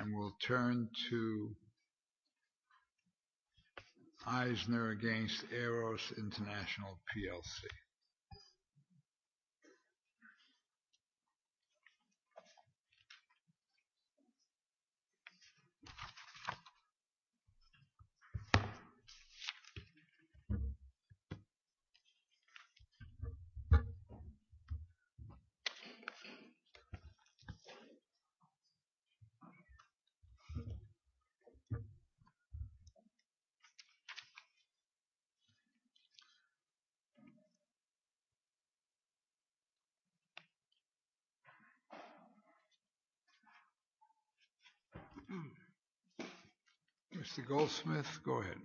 And we'll turn to Eisner against Eros International plc Mr. Goldsmith, go ahead.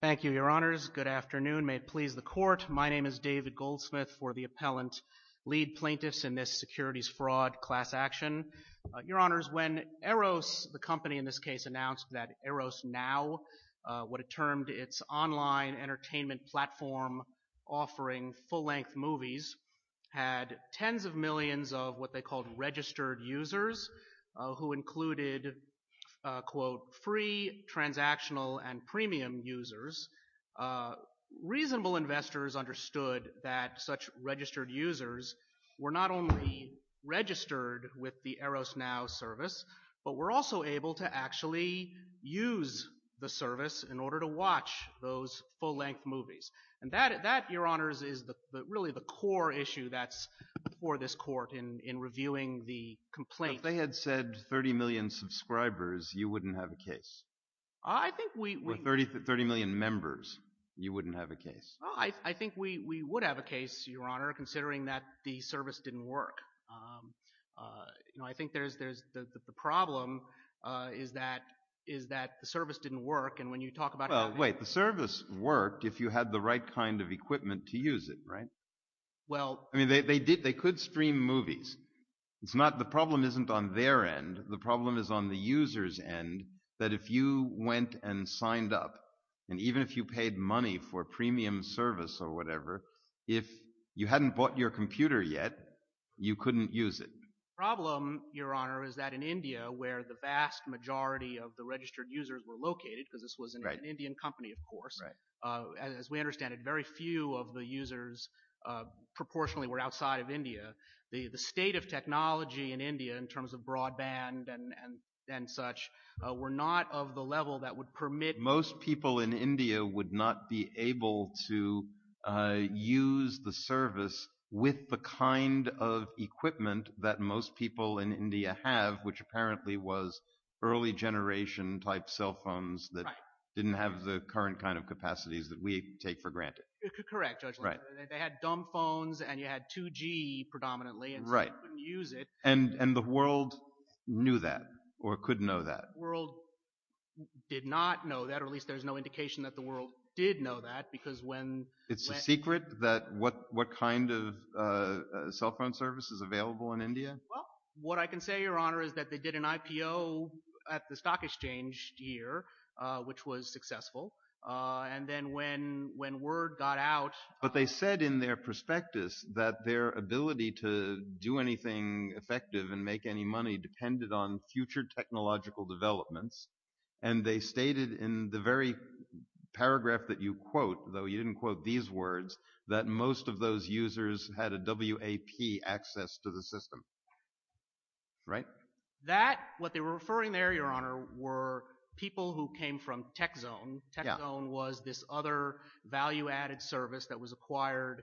Thank you, your honors. Good afternoon. May it please the court. My name is David Goldsmith for the appellant lead plaintiffs in this securities fraud class action. Your honors, when Eros, the company in this case announced that Eros now, what it termed its online entertainment platform offering full length movies, had tens of millions of what they called registered users, who included, quote, free, transactional and premium users, reasonable investors understood that such registered users were not only registered with the Eros now service, but were also able to actually use the service in order to watch those full length movies. And that, your honors, is really the core issue that's before this court in reviewing the complaint. If they had said 30 million subscribers, you wouldn't have a case. I think we For 30 million members, you wouldn't have a case. I think we would have a case, your honor, considering that the service didn't work. I think there's the problem is that the service didn't work. And when you talk about Well, wait, the service worked if you had the right kind of equipment to use it, right? Well I mean, they did, they could stream movies. It's not the problem isn't on their end. The problem is on the user's end, that if you went and signed up, and even if you paid money for premium service or whatever, if you hadn't bought your computer yet, you couldn't use it. The problem, your honor, is that in India, where the vast majority of the registered users were located, because this was an Indian company, of course, as we understand it, very few of the users proportionally were outside of India. The state of technology in India in terms of broadband and such were not of the level that would permit that most people in India would not be able to use the service with the kind of equipment that most people in India have, which apparently was early generation type cell phones that didn't have the current kind of capacities that we take for granted. Correct, your honor. Right. They had dumb phones, and you had 2G predominantly, and so you couldn't use it. And the world knew that, or could know that. The world did not know that, or at least there's no indication that the world did know that, because when... It's a secret that what kind of cell phone service is available in India? Well, what I can say, your honor, is that they did an IPO at the stock exchange here, which was successful. And then when word got out... But they said in their prospectus that their ability to do anything effective and make any money depended on future technological developments. And they stated in the very paragraph that you quote, though you didn't quote these words, that most of those users had a WAP access to the system. Right? That, what they were referring there, your honor, were people who came from TechZone. TechZone was this other value-added service that was acquired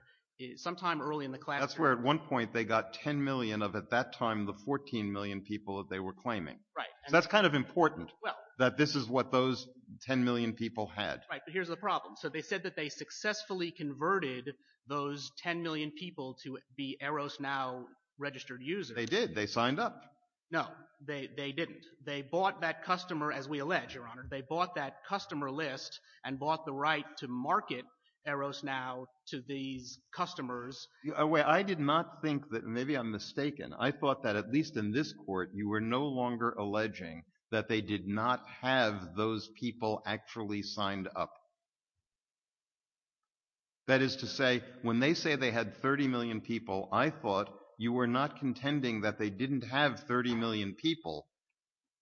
sometime early in the classroom. That's where, at one point, they got 10 million of, at that time, the 14 million people that they were claiming. Right. So that's kind of important, that this is what those 10 million people had. Right. But here's the problem. So they said that they successfully converted those 10 million people to be Eros Now registered users. They did. They signed up. No. They didn't. They bought that customer, as we allege, your honor. They bought that customer list and bought the right to market Eros Now to these customers. I did not think that, maybe I'm mistaken, I thought that, at least in this court, you were no longer alleging that they did not have those people actually signed up. That is to say, when they say they had 30 million people, I thought you were not contending that they didn't have 30 million people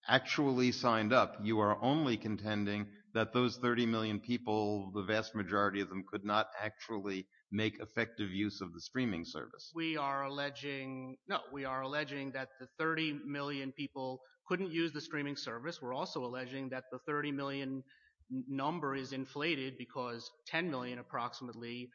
actually signed up. You are only contending that those 30 million people, the vast majority of them, could not actually make effective use of the streaming service. We are alleging, no, we are alleging that the 30 million people couldn't use the streaming service. We're also alleging that the 30 million number is inflated because 10 million, approximately,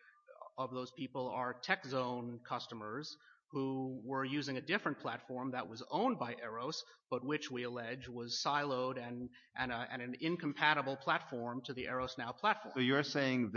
of those people are Tech Zone customers who were using a different platform that was owned by Eros, but which, we allege, was siloed and an incompatible platform to the Eros Now platform. So you're saying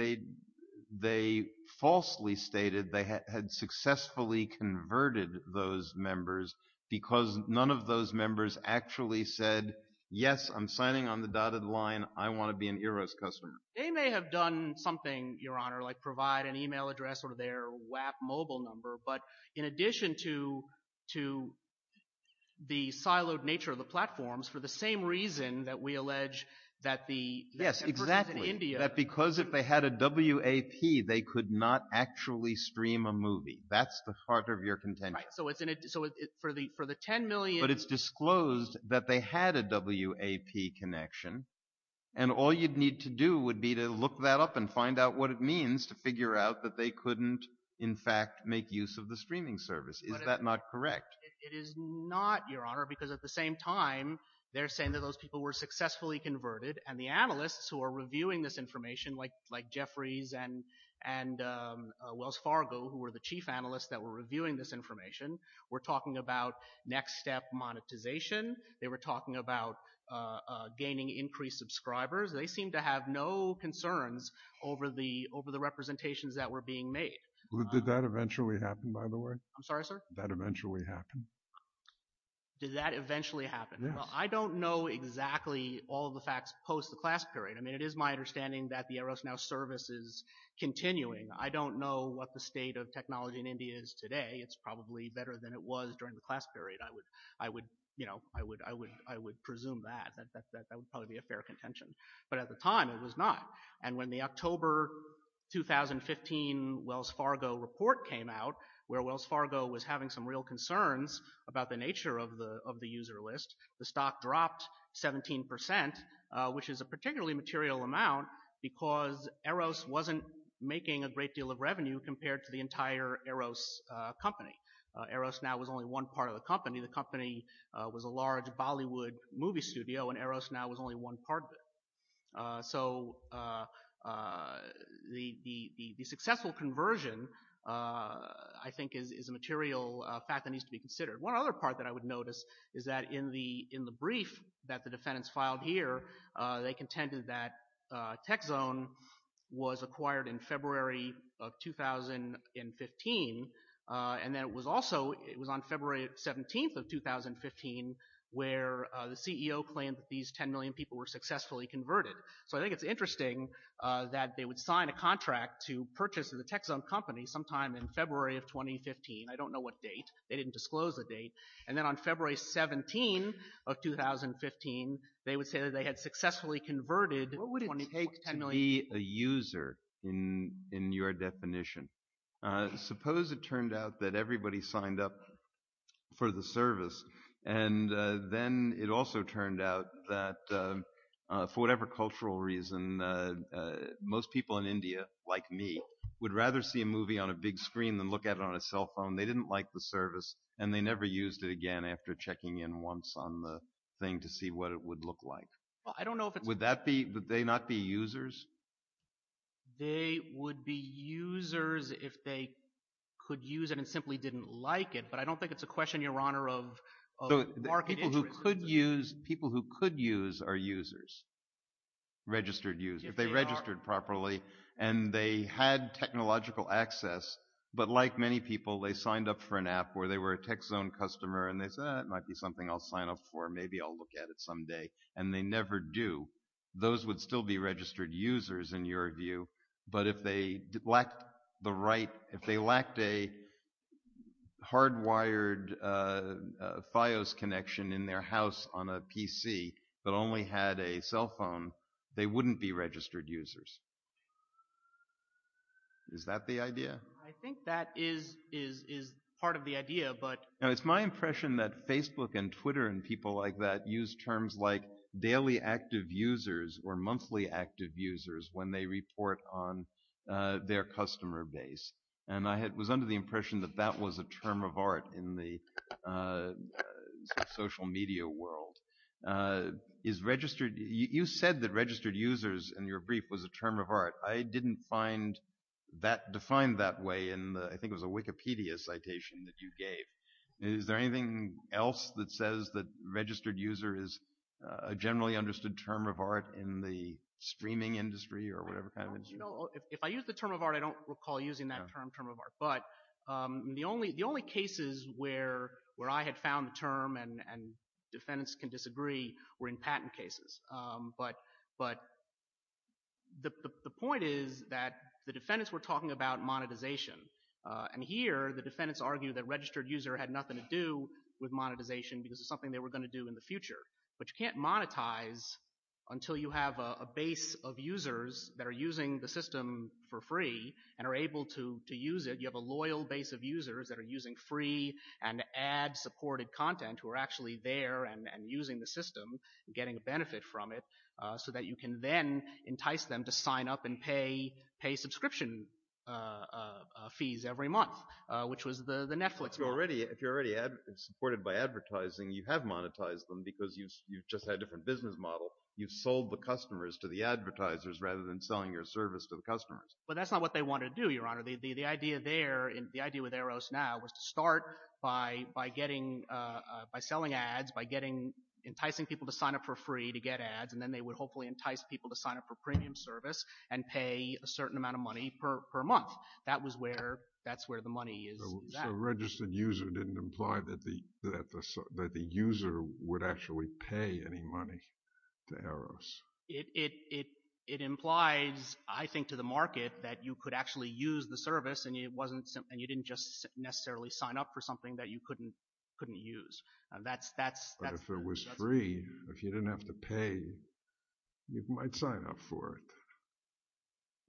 they falsely stated they had successfully converted those members because none of those members actually said, yes, I'm signing on the dotted line, I want to be an Eros customer. They may have done something, Your Honor, like provide an email address or their WAP mobile number, but in addition to the siloed nature of the platforms, for the same reason that we allege that the, that the person in India- Yes, exactly. That because if they had a WAP, they could not actually stream a movie. That's the heart of your contention. Right. So it's, so for the 10 million- But it's disclosed that they had a WAP connection, and all you'd need to do would be to look that up and find out what it means to figure out that they couldn't, in fact, make use of the streaming service. Is that not correct? It is not, Your Honor, because at the same time, they're saying that those people were successfully converted, and the analysts who are reviewing this information, like, like Jeffries and, and Wells Fargo, who were the chief analysts that were reviewing this information, were talking about next step monetization, they were talking about gaining increased subscribers. They seem to have no concerns over the, over the representations that were being made. Did that eventually happen, by the way? I'm sorry, sir? Did that, that eventually happen? Did that eventually happen? Yes. Well, I don't know exactly all of the facts post the class period. I mean, it is my understanding that the Eros Now service is continuing. I don't know what the state of technology in India is today. It's probably better than it was during the class period. I would, I would, you know, I would, I would, I would presume that, that, that, that would probably be a fair contention. But at the time, it was not. And when the October 2015 Wells Fargo report came out, where Wells Fargo was having some real concerns about the nature of the, of the user list, the stock dropped 17 percent, which is a particularly material amount, because Eros wasn't making a great deal of revenue compared to the entire Eros company. Eros Now was only one part of the company. The company was a large Bollywood movie studio, and Eros Now was only one part of it. So, the, the, the, the successful conversion, I think, is, is a material fact that needs to be considered. One other part that I would notice is that in the, in the brief that the defendants filed here, they contended that TechZone was acquired in February of 2015, and that it was also, it was on February 17th of 2015, where the CEO claimed that these ten million people were successfully converted. So, I think it's interesting that they would sign a contract to purchase the TechZone company sometime in February of 2015. I don't know what date. They didn't disclose the date. And then on February 17th of 2015, they would say that they had successfully converted ten million. What would it take to be a user in, in your definition? Suppose it turned out that everybody signed up for the service, and then it also turned out that, for whatever cultural reason, most people in India, like me, would rather see a movie on a big screen than look at it on a cell phone. They didn't like the service, and they never used it again after checking in once on the thing to see what it would look like. Well, I don't know if it's... Would that be, would they not be users? They would be users if they could use it and simply didn't like it, but I don't think it's a question, Your Honor, of, of market interest. People who could use, people who could use are users, registered users. If they registered properly and they had technological access, but like many people, they signed up for an app where they were a TechZone customer and they said, eh, it might be something I'll sign up for. Maybe I'll look at it someday. And they never do. Those would still be registered users, in your view. But if they lacked the right, if they lacked a hardwired Fios connection in their house on a PC, but only had a cell phone, they wouldn't be registered users. Is that the idea? I think that is, is, is part of the idea, but... Now, it's my impression that Facebook and Twitter and people like that use terms like for monthly active users when they report on their customer base. And I had, was under the impression that that was a term of art in the social media world. Is registered, you, you said that registered users in your brief was a term of art. I didn't find that defined that way in the, I think it was a Wikipedia citation that you gave. Is there anything else that says that registered user is a generally understood term of art in the streaming industry or whatever kind of industry? Well, you know, if I use the term of art, I don't recall using that term, term of art. But the only, the only cases where, where I had found the term and, and defendants can disagree were in patent cases. But, but the, the point is that the defendants were talking about monetization. And here the defendants argue that registered user had nothing to do with monetization because it's something they were going to do in the future. But you can't monetize until you have a base of users that are using the system for free and are able to, to use it. You have a loyal base of users that are using free and ad supported content who are actually there and, and using the system and getting a benefit from it so that you can then entice them to sign up and pay, pay subscription fees every month, which was the, the Netflix model. But if you're already, if you're already supported by advertising, you have monetized them because you've, you've just had a different business model. You've sold the customers to the advertisers rather than selling your service to the customers. But that's not what they want to do, Your Honor. The, the, the idea there, the idea with Eros now was to start by, by getting, by selling ads, by getting, enticing people to sign up for free to get ads, and then they would hopefully entice people to sign up for premium service and pay a certain amount of money per month. That was where, that's where the money is. So, so a registered user didn't imply that the, that the, that the user would actually pay any money to Eros. It, it, it, it implies, I think, to the market that you could actually use the service and it wasn't, and you didn't just necessarily sign up for something that you couldn't, couldn't use. That's, that's, that's... But if it was free, if you didn't have to pay, you might sign up for it.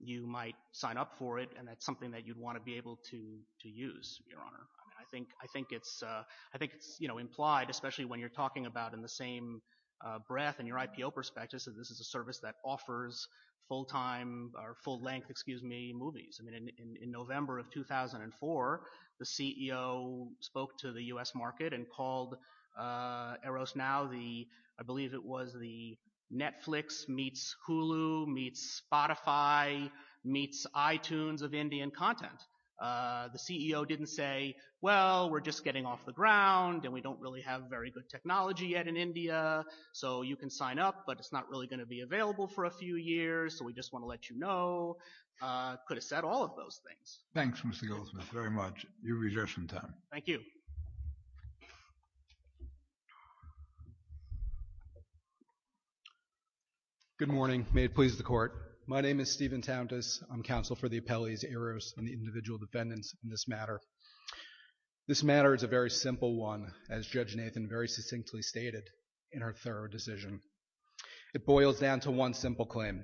You might sign up for it, and that's something that you'd want to be able to, to use, Your Honor. I mean, I think, I think it's, I think it's, you know, implied, especially when you're talking about in the same breath, in your IPO perspective, that this is a service that offers full-time, or full-length, excuse me, movies. I mean, in, in November of 2004, the CEO spoke to the U.S. market and called Eros now the, I believe it was the Netflix meets Hulu meets Spotify meets iTunes of Indian content. The CEO didn't say, well, we're just getting off the ground, and we don't really have very good technology yet in India, so you can sign up, but it's not really going to be available for a few years, so we just want to let you know. Could have said all of those things. Thanks, Mr. Goldsmith, very much. You reserve some time. Good morning. May it please the Court. My name is Stephen Tauntas. I'm counsel for the appellees, Eros, and the individual defendants in this matter. This matter is a very simple one, as Judge Nathan very succinctly stated in her thorough decision. It boils down to one simple claim,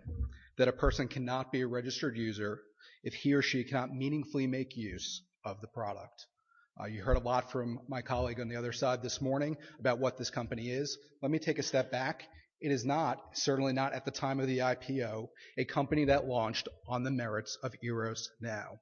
that a person cannot be a registered user if he or she cannot meaningfully make use of the product. You heard a lot from my colleague on the other side this morning about what this company is. Let me take a step back. It is not, certainly not at the time of the IPO, a company that launched on the merits of Eros Now.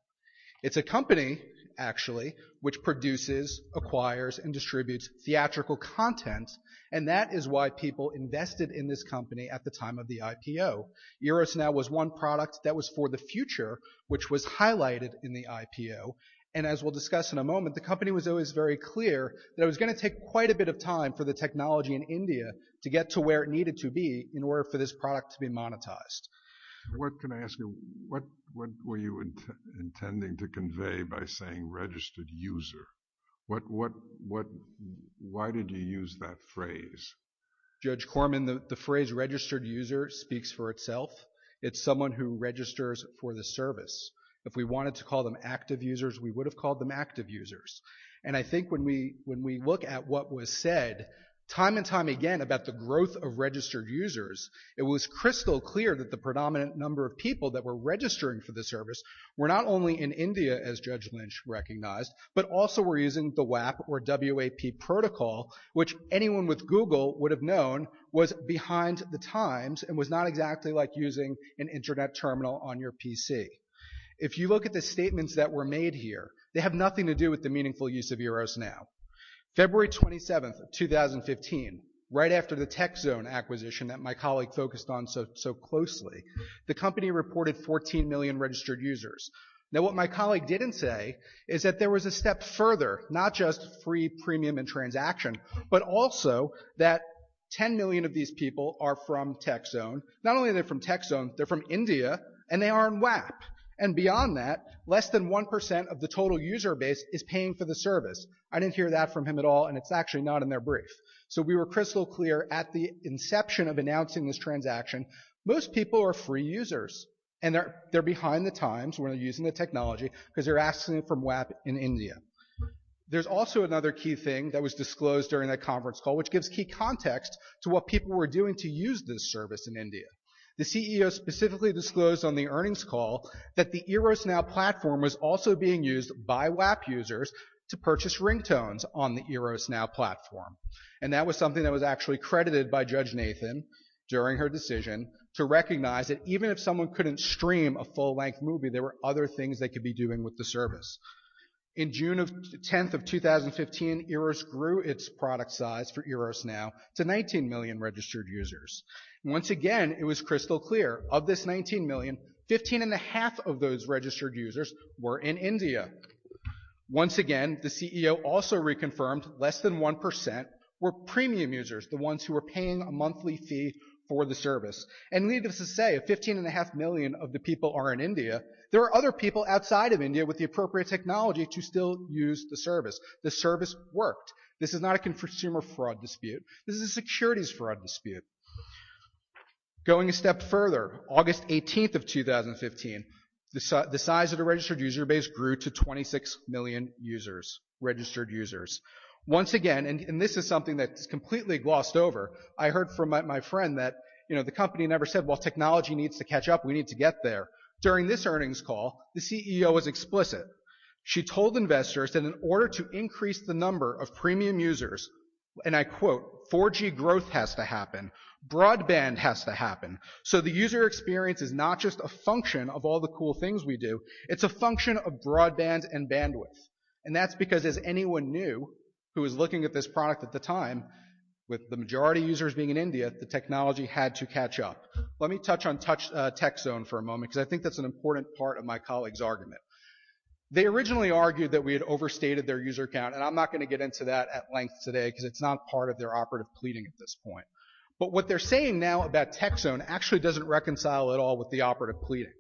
It's a company, actually, which produces, acquires, and distributes theatrical content, and that is why people invested in this company at the time of the IPO. Eros Now was one product that was for the future, which was highlighted in the IPO, and as we'll discuss in a moment, the company was always very clear that it was going to take quite a bit of time for the technology in India to get to where it needed to be in order for this product to be monetized. What can I ask you, what were you intending to convey by saying registered user? What, what, what, why did you use that phrase? Judge Corman, the phrase registered user speaks for itself. It's someone who registers for the service. If we wanted to call them active users, we would have called them active users, and I think what was said time and time again about the growth of registered users, it was crystal clear that the predominant number of people that were registering for the service were not only in India, as Judge Lynch recognized, but also were using the WAP or W-A-P protocol, which anyone with Google would have known was behind the times and was not exactly like using an internet terminal on your PC. If you look at the statements that were made here, they have nothing to do with the meaningful use of Eros Now. February 27th, 2015, right after the Tech Zone acquisition that my colleague focused on so, so closely, the company reported 14 million registered users. Now what my colleague didn't say is that there was a step further, not just free premium and transaction, but also that 10 million of these people are from Tech Zone. Not only are they from Tech Zone, they're from India, and they are on WAP. And beyond that, less than 1% of the total user base is paying for the service. I didn't hear that from him at all, and it's actually not in their brief. So we were crystal clear at the inception of announcing this transaction, most people are free users, and they're behind the times when they're using the technology because they're asking from WAP in India. There's also another key thing that was disclosed during that conference call, which gives key context to what people were doing to use this service in India. The CEO specifically disclosed on the earnings call that the Eros Now platform was also being used by WAP users to purchase ringtones on the Eros Now platform. And that was something that was actually credited by Judge Nathan during her decision to recognize that even if someone couldn't stream a full-length movie, there were other things they could be doing with the service. In June 10th of 2015, Eros grew its product size for Eros Now to 19 million registered users. And once again, it was crystal clear of this 19 million, 15 and a half of those registered users were in India. Once again, the CEO also reconfirmed less than 1% were premium users, the ones who were paying a monthly fee for the service. And needless to say, 15 and a half million of the people are in India. There are other people outside of India with the appropriate technology to still use the service. The service worked. This is not a consumer fraud dispute, this is a securities fraud dispute. Going a step further, August 18th of 2015, the size of the registered user base grew to 26 million registered users. Once again, and this is something that is completely glossed over, I heard from my friend that the company never said, well, technology needs to catch up, we need to get there. During this earnings call, the CEO was explicit. She told investors that in order to increase the number of premium users, and I quote, 4G growth has to happen, broadband has to happen. So the user experience is not just a function of all the cool things we do, it's a function of broadband and bandwidth. And that's because as anyone knew, who was looking at this product at the time, with the majority of users being in India, the technology had to catch up. Let me touch on Tech Zone for a moment, because I think that's an important part of my colleague's argument. They originally argued that we had overstated their user count, and I'm not going to get into that at length today, because it's not part of their operative pleading at this point. But what they're saying now about Tech Zone actually doesn't reconcile at all with the operative pleading.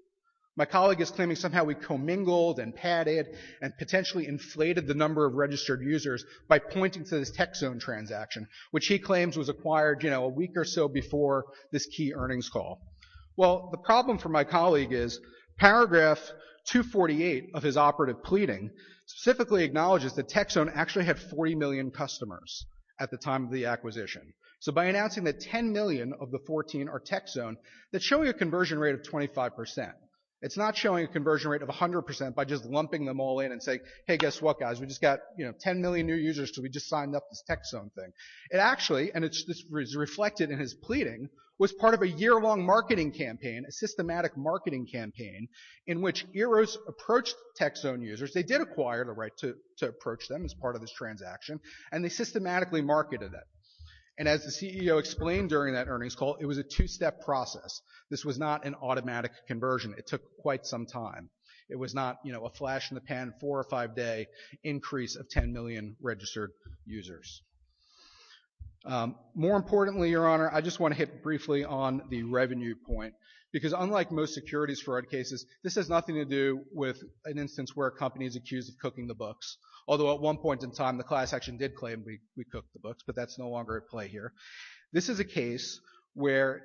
My colleague is claiming somehow we commingled and padded and potentially inflated the number of registered users by pointing to this Tech Zone transaction, which he claims was acquired, you know, a week or so before this key earnings call. Well, the problem for my colleague is paragraph 248 of his operative pleading specifically acknowledges that Tech Zone actually had 40 million customers at the time of the acquisition. So by announcing that 10 million of the 14 are Tech Zone, that's showing a conversion rate of 25%. It's not showing a conversion rate of 100% by just lumping them all in and say, hey, guess what, guys? We just got, you know, 10 million new users, so we just signed up this Tech Zone thing. It actually, and it's reflected in his pleading, was part of a year-long marketing campaign, a systematic marketing campaign, in which Eros approached Tech Zone users. They did acquire the right to approach them as part of this transaction, and they systematically marketed it. And as the CEO explained during that earnings call, it was a two-step process. This was not an automatic conversion. It took quite some time. It was not, you know, a flash in the pan, four or five-day increase of 10 million registered users. More importantly, Your Honor, I just want to hit briefly on the revenue point, because unlike most securities fraud cases, this has nothing to do with an instance where a company is accused of cooking the books, although at one point in time, the class action did claim we cooked the books, but that's no longer at play here. This is a case where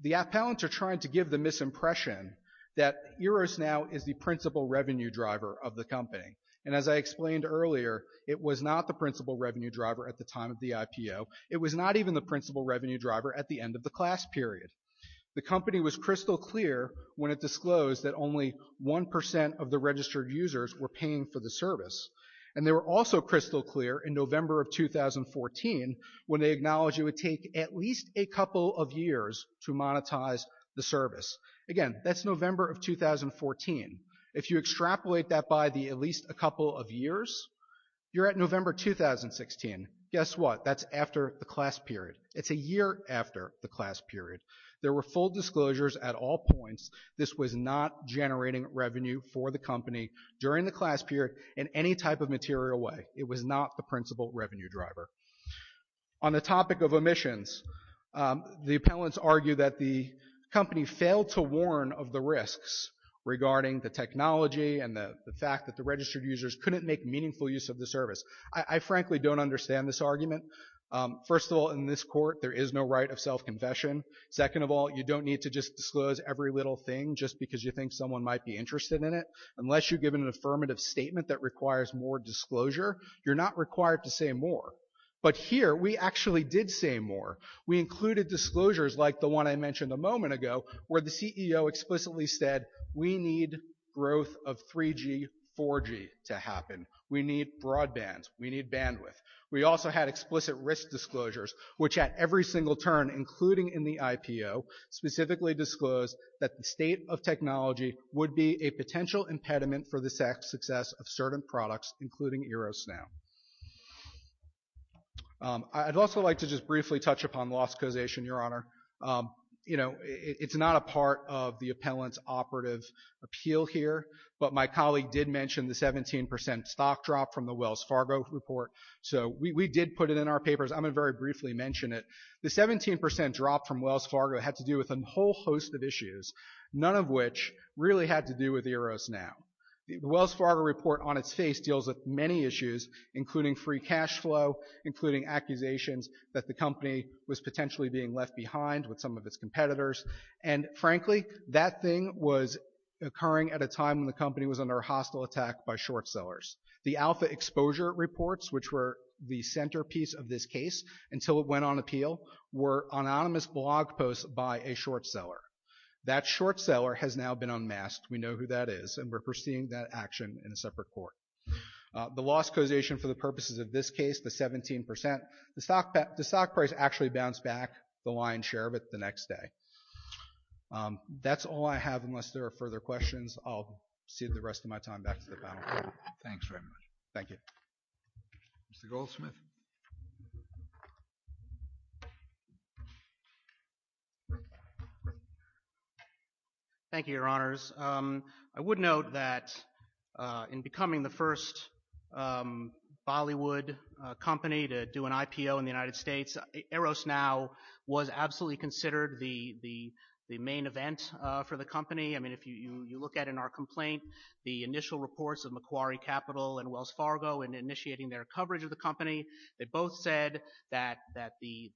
the appellants are trying to give the misimpression that Eros now is the principal revenue driver of the company. And as I explained earlier, it was not the principal revenue driver at the time of the IPO. It was not even the principal revenue driver at the end of the class period. The company was crystal clear when it disclosed that only 1% of the registered users were paying for the service. And they were also crystal clear in November of 2014 when they acknowledged it would take at least a couple of years to monetize the service. Again, that's November of 2014. If you extrapolate that by the at least a couple of years, you're at November 2016. Guess what? That's after the class period. It's a year after the class period. There were full disclosures at all points. This was not generating revenue for the company during the class period in any type of material way. It was not the principal revenue driver. On the topic of omissions, the appellants argue that the company failed to warn of the risks regarding the technology and the fact that the registered users couldn't make meaningful use of the service. I frankly don't understand this argument. First of all, in this court, there is no right of self-confession. Second of all, you don't need to just disclose every little thing just because you think someone might be interested in it. Unless you've given an affirmative statement that requires more disclosure, you're not required to say more. But here, we actually did say more. We included disclosures like the one I mentioned a moment ago where the CEO explicitly said we need growth of 3G, 4G to happen. We need broadband. We need bandwidth. We also had explicit risk disclosures, which at every single turn, including in the IPO, specifically disclosed that the state of technology would be a potential impediment for the success of certain products, including Eros now. I'd also like to just briefly touch upon loss causation, Your Honor. You know, it's not a part of the appellant's operative appeal here, but my colleague did mention the 17% stock drop from the Wells Fargo report. So we did put it in our papers. I'm going to very briefly mention it. The 17% drop from Wells Fargo had to do with a whole host of issues, none of which really had to do with Eros now. The Wells Fargo report on its face deals with many issues, including free cash flow, including accusations that the company was potentially being left behind with some of its competitors. And frankly, that thing was occurring at a time when the company was under a hostile attack by short sellers. The alpha exposure reports, which were the centerpiece of this case until it went on appeal, were anonymous blog posts by a short seller. That short seller has now been unmasked. We know who that is, and we're proceeding that action in a separate court. The loss causation for the purposes of this case, the 17%, the stock price actually bounced back the lion's share of it the next day. That's all I have. Unless there are further questions, I'll cede the rest of my time back to the panel. Thanks very much. Thank you. Mr. Goldsmith. Thank you, Your Honors. I would note that in becoming the first Bollywood company to do an IPO in the United States, Eros Now was absolutely considered the main event for the company. If you look at, in our complaint, the initial reports of Macquarie Capital and Wells Fargo in initiating their coverage of the company, they both said that the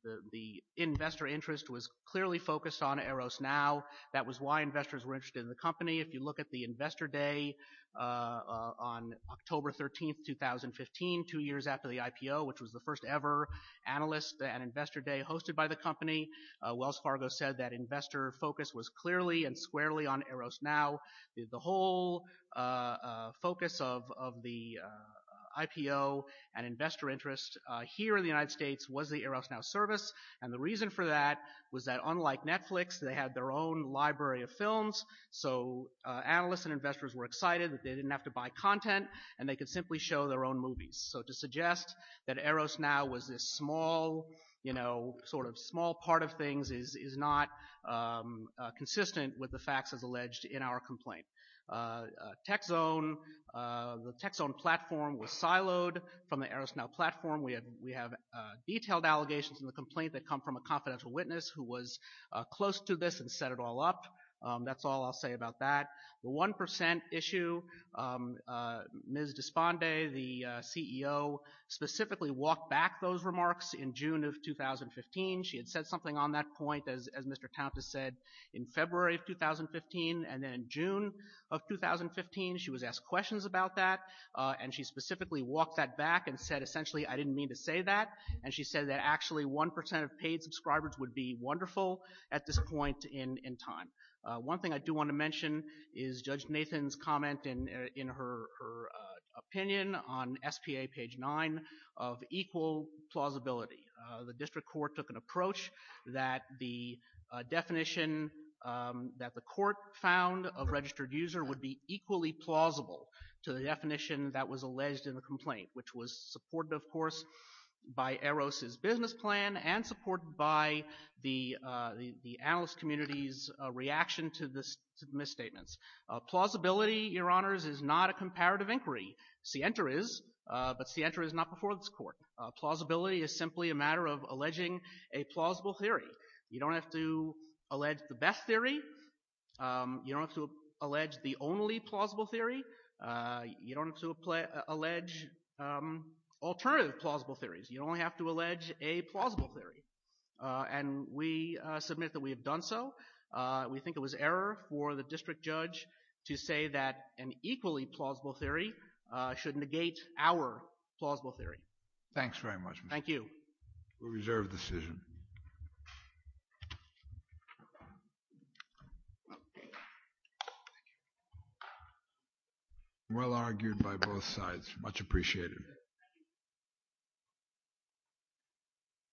investor interest was clearly focused on Eros Now. That was why investors were interested in the company. If you look at the investor day on October 13, 2015, two years after the IPO, which was the first ever analyst and investor day hosted by the company, Wells Fargo said that investor focus was clearly and squarely on Eros Now. The whole focus of the IPO and investor interest here in the United States was the Eros Now service. And the reason for that was that unlike Netflix, they had their own library of films. So analysts and investors were excited that they didn't have to buy content and they could simply show their own movies. So to suggest that Eros Now was this small, you know, sort of small part of things is not consistent with the facts as alleged in our complaint. Tech Zone, the Tech Zone platform was siloed from the Eros Now platform. We have detailed allegations in the complaint that come from a confidential witness who was close to this and set it all up. That's all I'll say about that. The 1% issue, Ms. Desponde, the CEO, specifically walked back those remarks in June of 2015. She had said something on that point, as Mr. Taunta said, in February of 2015 and then in June of 2015, she was asked questions about that. And she specifically walked that back and said, essentially, I didn't mean to say that. And she said that actually 1% of paid subscribers would be wonderful at this point in time. One thing I do want to mention is Judge Nathan's comment in her opinion on SPA page 9 of equal plausibility. The district court took an approach that the definition that the court found of registered user would be equally plausible to the definition that was alleged in the complaint, which was supported, of course, by Eros' business plan and supported by the analyst community's reaction to the misstatements. Plausibility, Your Honors, is not a comparative inquiry. Sienta is, but Sienta is not before this court. Plausibility is simply a matter of alleging a plausible theory. You don't have to allege the best theory. You don't have to allege the only plausible theory. You don't have to allege alternative plausible theories. You only have to allege a plausible theory. And we submit that we have done so. We think it was error for the district judge to say that an equally plausible theory should negate our plausible theory. Thanks very much. Thank you. We'll reserve the decision. Thank you. Well argued by both sides.